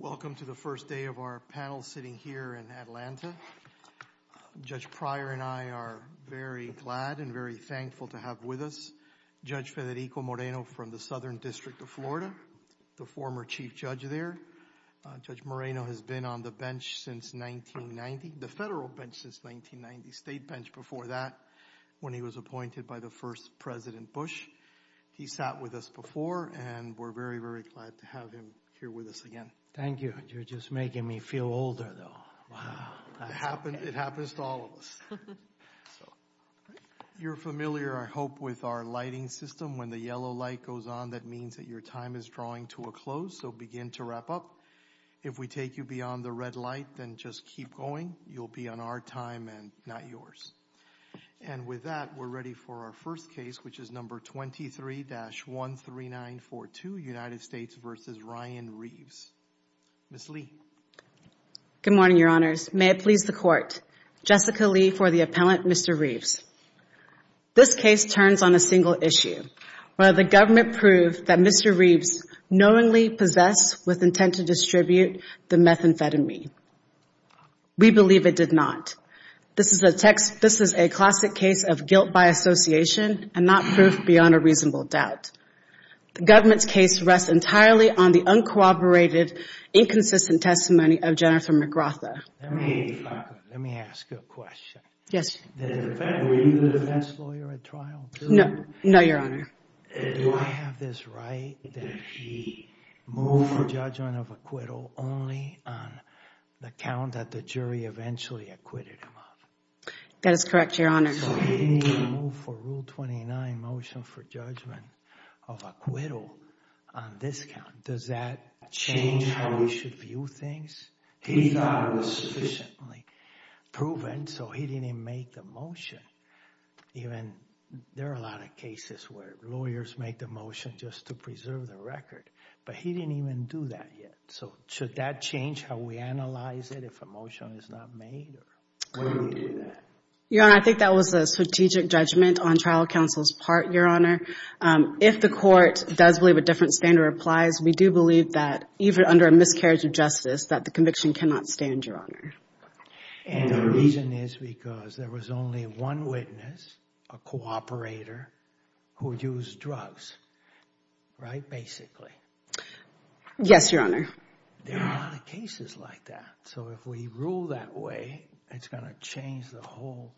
Welcome to the first day of our panel sitting here in Atlanta. Judge Pryor and I are very glad and very thankful to have with us Judge Federico Moreno from the Southern District of Florida, the former chief judge there. Judge Moreno has been on the bench since 1990, the federal bench since 1990, state bench before that when he was appointed by the first President Bush. He sat with us before and we're very, very glad to have him here with us again. Judge Pryor Thank you. You're just making me feel older though. Wow. Judge Moreno It happens to all of us. You're familiar I hope with our lighting system. When the yellow light goes on that means that your time is drawing to a close so begin to wrap up. If we take you beyond the red light then just keep going. You'll be on our time and not yours. And with that, we're ready for our first case which is number 23-13942 United States v. Ryan Reeves. Ms. Lee. Jessica Lee Good morning, Your Honors. May it please the Court. Jessica Lee for the appellant Mr. Reeves. This case turns on a single issue. Will the government prove that Mr. Reeves knowingly possessed with intent to distribute the methamphetamine? We believe it did not. This is a classic case of guilt by association and not proof beyond a reasonable doubt. The government's case rests entirely on the uncooperated, inconsistent testimony of Jennifer McGrath. Judge McGrath Let me ask you a question. Ms. Lee Yes. Judge McGrath Were you the defense lawyer at trial? Ms. Lee No, Your Honor. Judge McGrath Do I have this right that he moved for judgment of acquittal only on the count that the jury eventually acquitted him of? Ms. Lee That is correct, Your Honor. Judge McGrath So he didn't even move for rule 29 motion for judgment of acquittal on this count. Does that change how we should view things? Ms. Lee We thought it was sufficiently proven, so he didn't even make the motion. There are a lot of cases where lawyers make the motion just to preserve the record, but he didn't even do that yet. So should that change how we analyze it if a motion is not made or when we do that? Ms. Lee Your Honor, I think that was a strategic judgment on trial counsel's part, Your Honor. If the court does believe a different standard applies, we do believe that even under a miscarriage of justice that the conviction cannot stand, Your Honor. And the reason is because there was only one witness, a cooperator, who used drugs, right, basically? Ms. Lee Yes, Your Honor. Judge McGrath There are a lot of cases like that. So if we rule that way, it's going to change the whole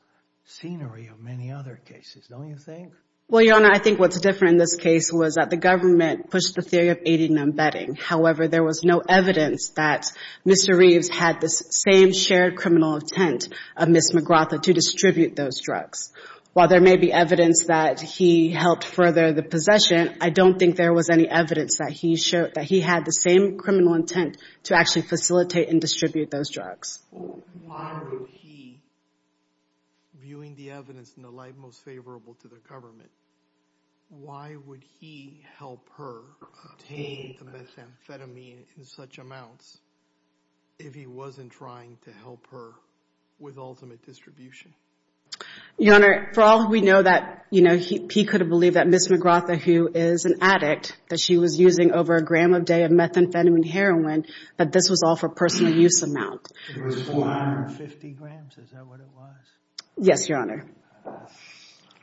scenery of many other cases, don't you think? Ms. Lee Well, Your Honor, I think what's different in this case was that the government pushed the theory of aiding and abetting. However, there was no evidence that Mr. Reeves had the same shared criminal intent of Ms. McGrath to distribute those drugs. While there may be evidence that he helped further the possession, I don't think there was any evidence that he showed that he had the same criminal intent to actually facilitate and distribute those drugs. Judge McGrath Why would he, viewing the evidence in the light most favorable to the government, why would he help her obtain the methamphetamine in such amounts if he wasn't trying to help her with ultimate distribution? Ms. Lee Your Honor, for all we know that, you know, he could have believed that Ms. McGrath, who is an addict, that she was using over a gram a day of methamphetamine heroin, that this was all for personal use amount. Judge McGrath It was 450 grams. Is that what it was? Ms. Lee Yes, Your Honor. Judge McGrath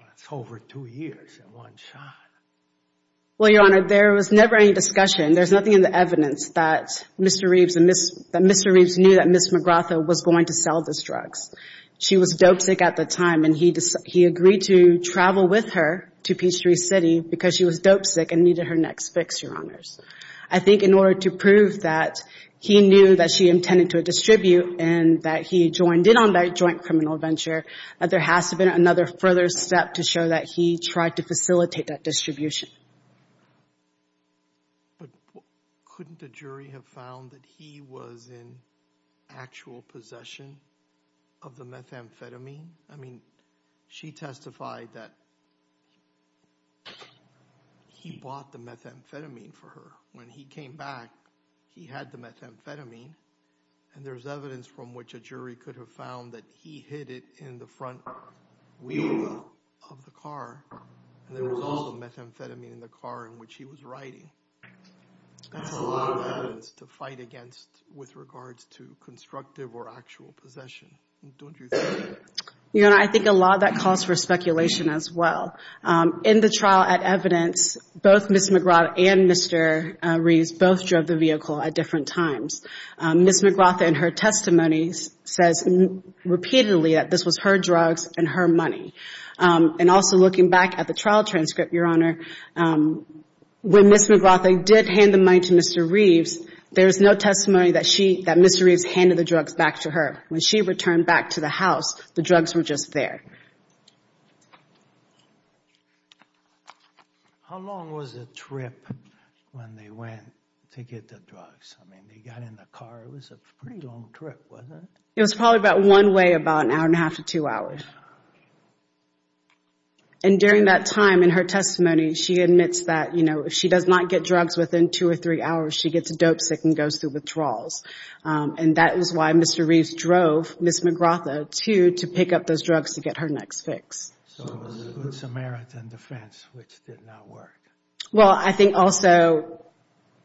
That's over two years in one shot. Ms. Lee Well, Your Honor, there was never any discussion. There's nothing in the evidence that Mr. Reeves knew that Ms. McGrath was going to sell those drugs. She was dope sick at the time, and he agreed to travel with her to Peachtree City because she was dope sick and needed her next fix, Your Honors. I think in order to prove that he knew that she intended to distribute and that he joined in on that joint criminal adventure, there has to have been another further step to show that he tried to facilitate that distribution. Judge Goldberg But couldn't the jury have found that he was in actual possession of the methamphetamine? I mean, she testified that he bought the methamphetamine for her. When he came back, he had the methamphetamine, and there's evidence from which a jury could have found that he hid it in the front wheel of the car, and there was also methamphetamine in the car in which he was riding. That's a lot of evidence to fight against with regards to constructive or actual possession, don't you think? Ms. Lee Your Honor, I think a lot of that calls for speculation as well. In the trial at evidence, both Ms. McGrath and Mr. Reeves both drove the vehicle at different times. Ms. McGrath in her testimonies says repeatedly that this was her drugs and her money. And also looking back at the trial transcript, Your Honor, when Ms. McGrath did hand the money to Mr. Reeves, there's no testimony that Mr. Reeves handed the drugs back to her. When she returned back to the drugs were just there. How long was the trip when they went to get the drugs? I mean, they got in the car, it was a pretty long trip, wasn't it? It was probably about one way, about an hour and a half to two hours. And during that time in her testimony, she admits that, you know, if she does not get drugs within two or three hours, she gets dopesick and goes through withdrawals. And that is why Mr. Reeves drove Ms. McGrath too, to pick up those drugs to get her next fix. So it was good Samaritan defense, which did not work? Well, I think also,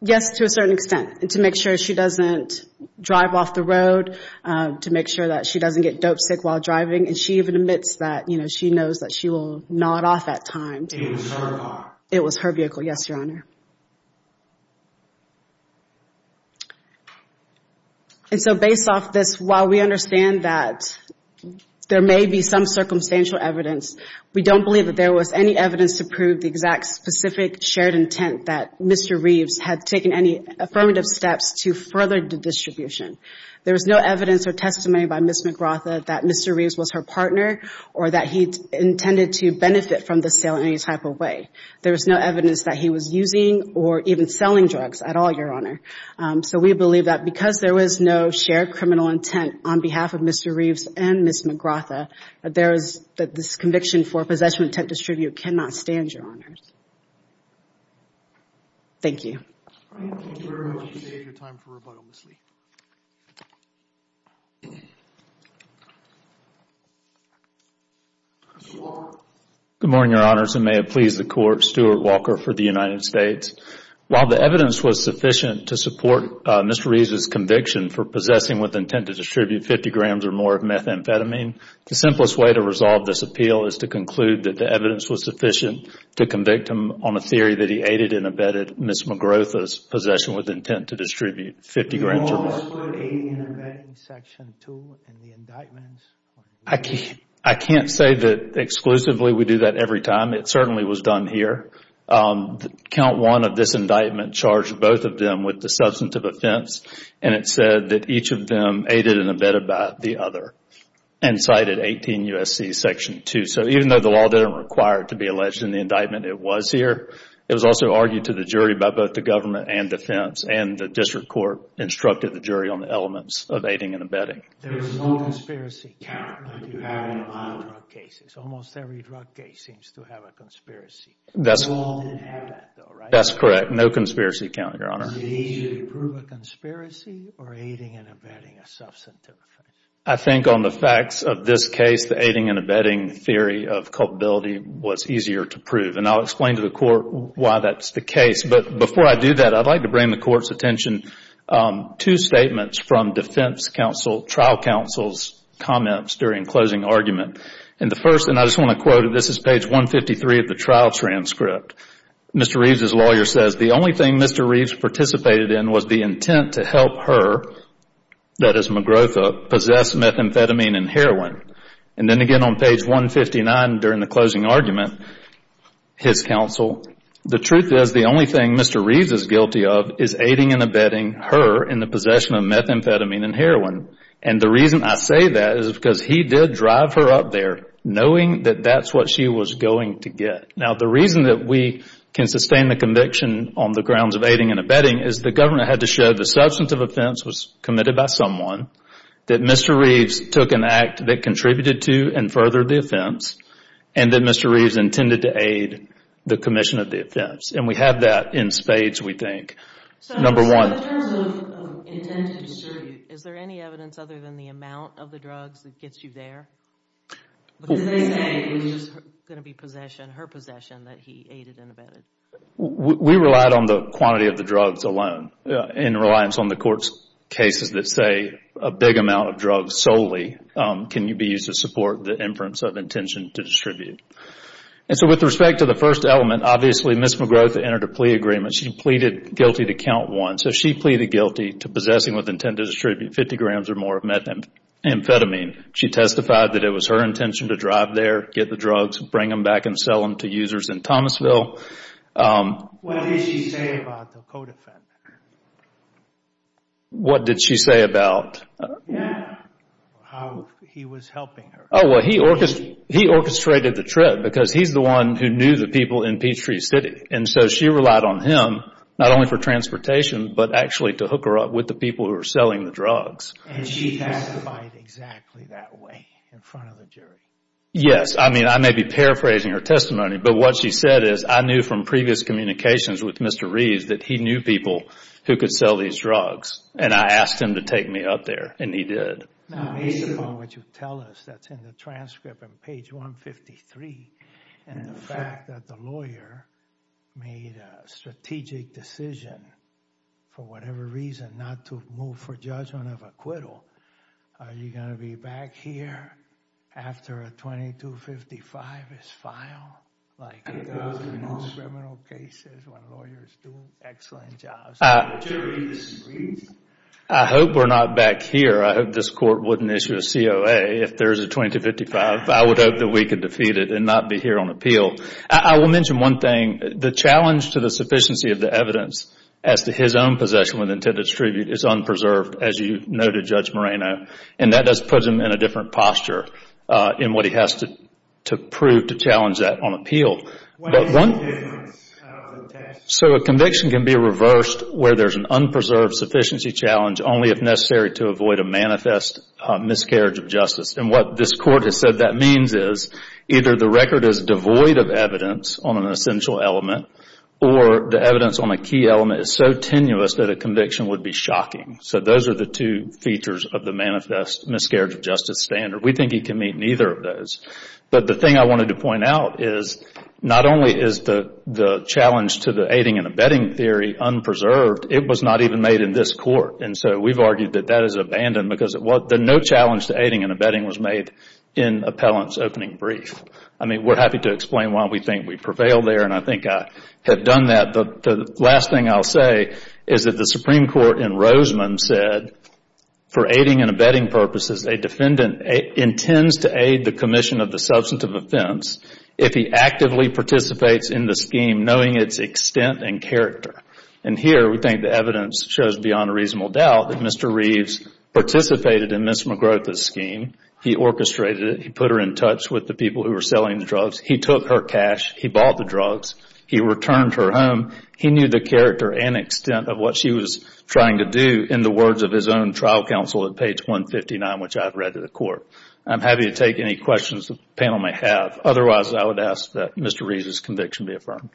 yes, to a certain extent, to make sure she doesn't drive off the road, to make sure that she doesn't get dopesick while driving. And she even admits that, you know, she knows that she will nod off at times. It was her car? It was her vehicle, yes, Your Honor. And so based off this, while we understand that there may be some circumstantial evidence, we don't believe that there was any evidence to prove the exact specific shared intent that Mr. Reeves had taken any affirmative steps to further the distribution. There was no evidence or testimony by Ms. McGrath that Mr. Reeves was her partner or that he intended to benefit from the sale in any type of way. There was no evidence that he was using or even selling drugs at all, Your Honor. So we believe that because there was no shared criminal intent on behalf of Mr. Reeves and Ms. McGrath, that this conviction for possession of intent to distribute cannot stand, Your Honors. Thank you. Good morning, Your Honors, and may it please the Court, Stuart Walker for the United States. While the evidence was sufficient to support Mr. Reeves' conviction for possessing with intent to distribute 50 grams or more of methamphetamine, the simplest way to resolve this appeal is to conclude that the evidence was sufficient to convict him on a theory that he aided and abetted Ms. McGrath's possession with intent to distribute 50 grams or more. I can't say that exclusively we do that every time. It certainly was done here. The count one of this indictment charged both of them with the substantive offense, and it said that each of them aided and abetted by the other and cited 18 U.S.C. Section 2. So even though the law didn't require it to be alleged in the indictment, it was here. It was also argued to the jury by both the government and defense, and the district court instructed the jury on the elements of aiding and abetting. There is no conspiracy count that you have in a lot of drug cases. Almost every drug case seems to have a conspiracy. The law didn't have that though, right? That's correct. No conspiracy count, Your Honor. Did he usually prove a conspiracy or aiding and abetting a substantive offense? I think on the facts of this case, the aiding and abetting theory of culpability was easier to prove, and I'll explain to the Court why that's the case. But before I do that, I'd like to bring the Court's attention to statements from defense counsel, trial counsel's comments during closing argument. And the first, and I just want to quote, this is page 153 of the trial transcript. Mr. Reeves' lawyer says, the only thing Mr. Reeves participated in was the intent to help her, that is McGrotha, possess methamphetamine and heroin. And then again on page 159 during the closing argument, his counsel, the truth is the only thing Mr. Reeves is guilty of is aiding and abetting her in the possession of methamphetamine and heroin. And the reason I say that is because he did drive her up there knowing that that's what she was going to get. Now the reason that we can sustain the conviction on the grounds of aiding and abetting is the Governor had to show the substantive offense was committed by someone, that Mr. Reeves took an act that contributed to and furthered the offense, and that Mr. Reeves intended to aid the commission of the offense. And we have that in spades, we think. So in terms of intent to distribute, is there any evidence other than the amount of the drugs that gets you there? Because they say it was just going to be possession, her possession that he aided and abetted. We relied on the quantity of the drugs alone. In reliance on the court's cases that say a big amount of drugs solely can be used to support the inference of intention to distribute. And so with respect to the first element, obviously Ms. McGroth entered a plea agreement. She pleaded guilty to count one. So she pleaded guilty to possessing with intent to distribute 50 grams or more of methamphetamine. She testified that it was her intention to drive there, get the drugs, bring them back and sell them to users in Thomasville. What did she say about the code effect? What did she say about? Yeah, how he was helping her. Oh, well, he orchestrated the trip because he's the one who knew the people in Peachtree City. And so she relied on him, not only for transportation, but actually to hook her up with the people who were selling the drugs. And she testified exactly that way in front of the jury. Yes, I mean, I may be paraphrasing her testimony, but what she said is, I knew from previous communications with Mr. Reeves that he knew people who could sell these drugs. And I asked him to take me up there and he did. Now, based upon what you tell us, that's in the transcript on page 153. And the fact that the lawyer made a strategic decision for whatever reason not to move for judgment of acquittal. Are you going to be back here after a 2255 is filed? I hope we're not back here. I hope this court wouldn't issue a COA if there's a 2255. I would hope that we could defeat it and not be here on appeal. I will mention one thing. The challenge to the sufficiency of the evidence as to his own possession with intended attribute is unpreserved, as you noted, Judge Moreno. And that does put him in a different posture in what he has to prove to challenge that on appeal. So a conviction can be reversed where there's an unpreserved sufficiency challenge only if necessary to avoid a manifest miscarriage of justice. And what this court has said that means is either the record is devoid of evidence on an essential element or the evidence on a key element is so tenuous that a conviction would be shocking. So those are the two features of the manifest miscarriage of justice standard. We think he can meet neither of those. But the thing I wanted to point out is not only is the challenge to the aiding and abetting theory unpreserved, it was not even made in this court. And so we've argued that that is abandoned because no challenge to aiding and abetting was made in appellant's opening brief. I mean, we're happy to explain why we think we prevailed there. And I think I have done that. The last thing I'll say is that the Supreme Court in Roseman said for aiding and abetting purposes, a defendant intends to aid the commission of the substantive offense if he actively participates in the scheme knowing its extent and character. And here we think the evidence shows beyond a reasonable doubt that Mr. Reeves participated in Ms. McGrotha's scheme. He orchestrated it. He put her in touch with the people who were selling the drugs. He took her cash. He bought the drugs. He returned her home. He knew the character and extent of what she was trying to do in the words of his own trial counsel at page 159, which I've read to the court. I'm happy to take any questions the panel may have. Otherwise, I would ask that Mr. Reeves' conviction be affirmed.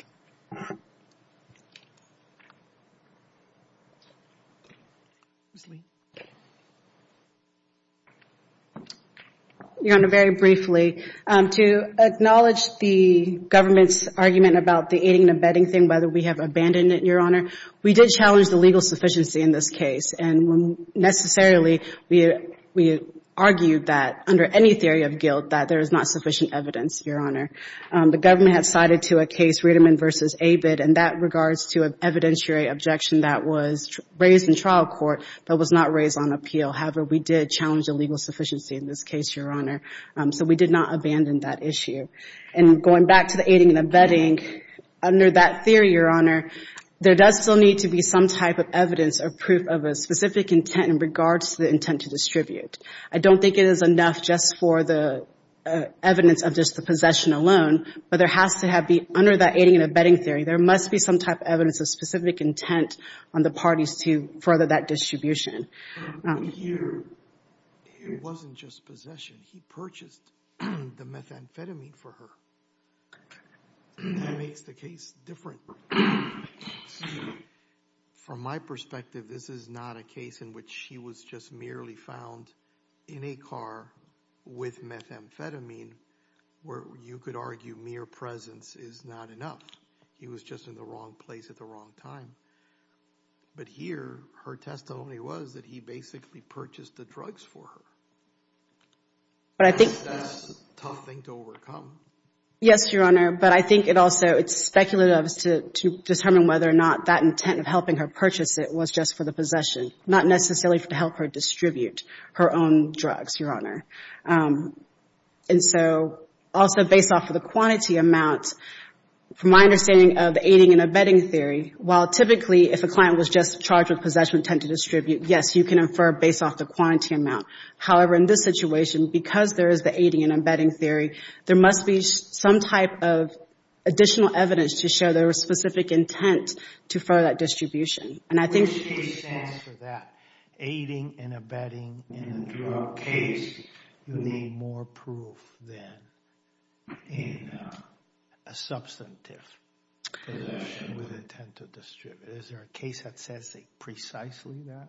Your Honor, very briefly, to acknowledge the government's argument about the aiding and abetting thing, whether we have abandoned it, Your Honor, we did challenge the legal sufficiency in this case. And necessarily, we argued that under any theory of guilt that there is not sufficient evidence, Your Honor. The government had cited to a case, Riedemann v. Abed, in that regards to an evidentiary objection that was raised in trial court that was not raised on appeal. However, we did challenge the legal sufficiency in this case, Your Honor. So we did not abandon that issue. And going back to the aiding and abetting, under that theory, Your Honor, there does still need to be some type of evidence or proof of a specific intent in regards to the intent to distribute. I don't think it is enough just for the evidence of just the possession alone. But there has to be, under that aiding and abetting theory, there must be some type of evidence of specific intent on the parties to further that distribution. But here, it wasn't just possession. He purchased the methamphetamine for her. That makes the case different. So, from my perspective, this is not a case in which she was just merely found in a car with methamphetamine, where you could argue mere presence is not enough. He was just in the wrong place at the wrong time. But here, her testimony was that he basically purchased the drugs for her. But I think that's a tough thing to overcome. Yes, Your Honor. But I think it also, it's speculative to determine whether or not that intent of helping her purchase it was just for the possession, not necessarily to help her distribute her own drugs, Your Honor. And so, also based off of the quantity amount, from my understanding of aiding and abetting theory, while typically if a client was just charged with possession intent to distribute, yes, you can infer based off the quantity amount. However, in this situation, because there is the aiding and abetting theory, there must be some type of additional evidence to show there was specific intent to further that distribution. And I think... Which case stands for that? Aiding and abetting in a drug case, you need more proof than in a substantive possession with intent to distribute. Is there a case that says precisely that?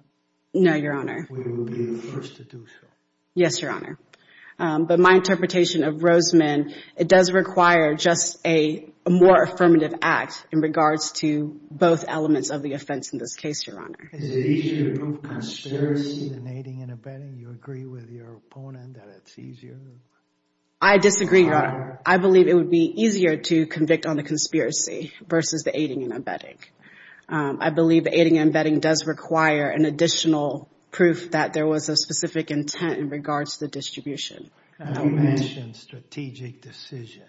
No, Your Honor. We will be the first to do so. Yes, Your Honor. But my interpretation of Rosemann, it does require just a more affirmative act in regards to both elements of the offense in this case, Your Honor. Is it easier to prove conspiracy than aiding and abetting? Do you agree with your opponent that it's easier? I disagree, Your Honor. I believe it would be easier to convict on the conspiracy versus the aiding and abetting. I believe aiding and abetting does require an additional proof that there was a specific intent in regards to the distribution. I mentioned strategic decision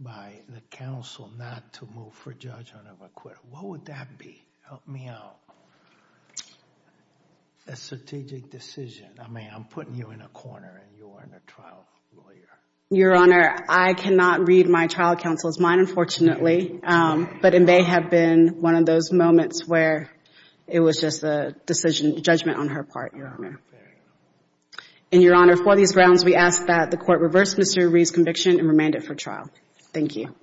by the counsel not to move for judgment of acquittal. What would that be? Help me out. A strategic decision. I mean, I'm putting you in a corner and you're a trial lawyer. Your Honor, I cannot read my trial counsel's mind, unfortunately. But it may have been one of those moments where it was just a decision, judgment on her part, Your Honor. And Your Honor, for these grounds, we ask that the court reverse Mr. Reed's conviction and remand it for trial. Thank you.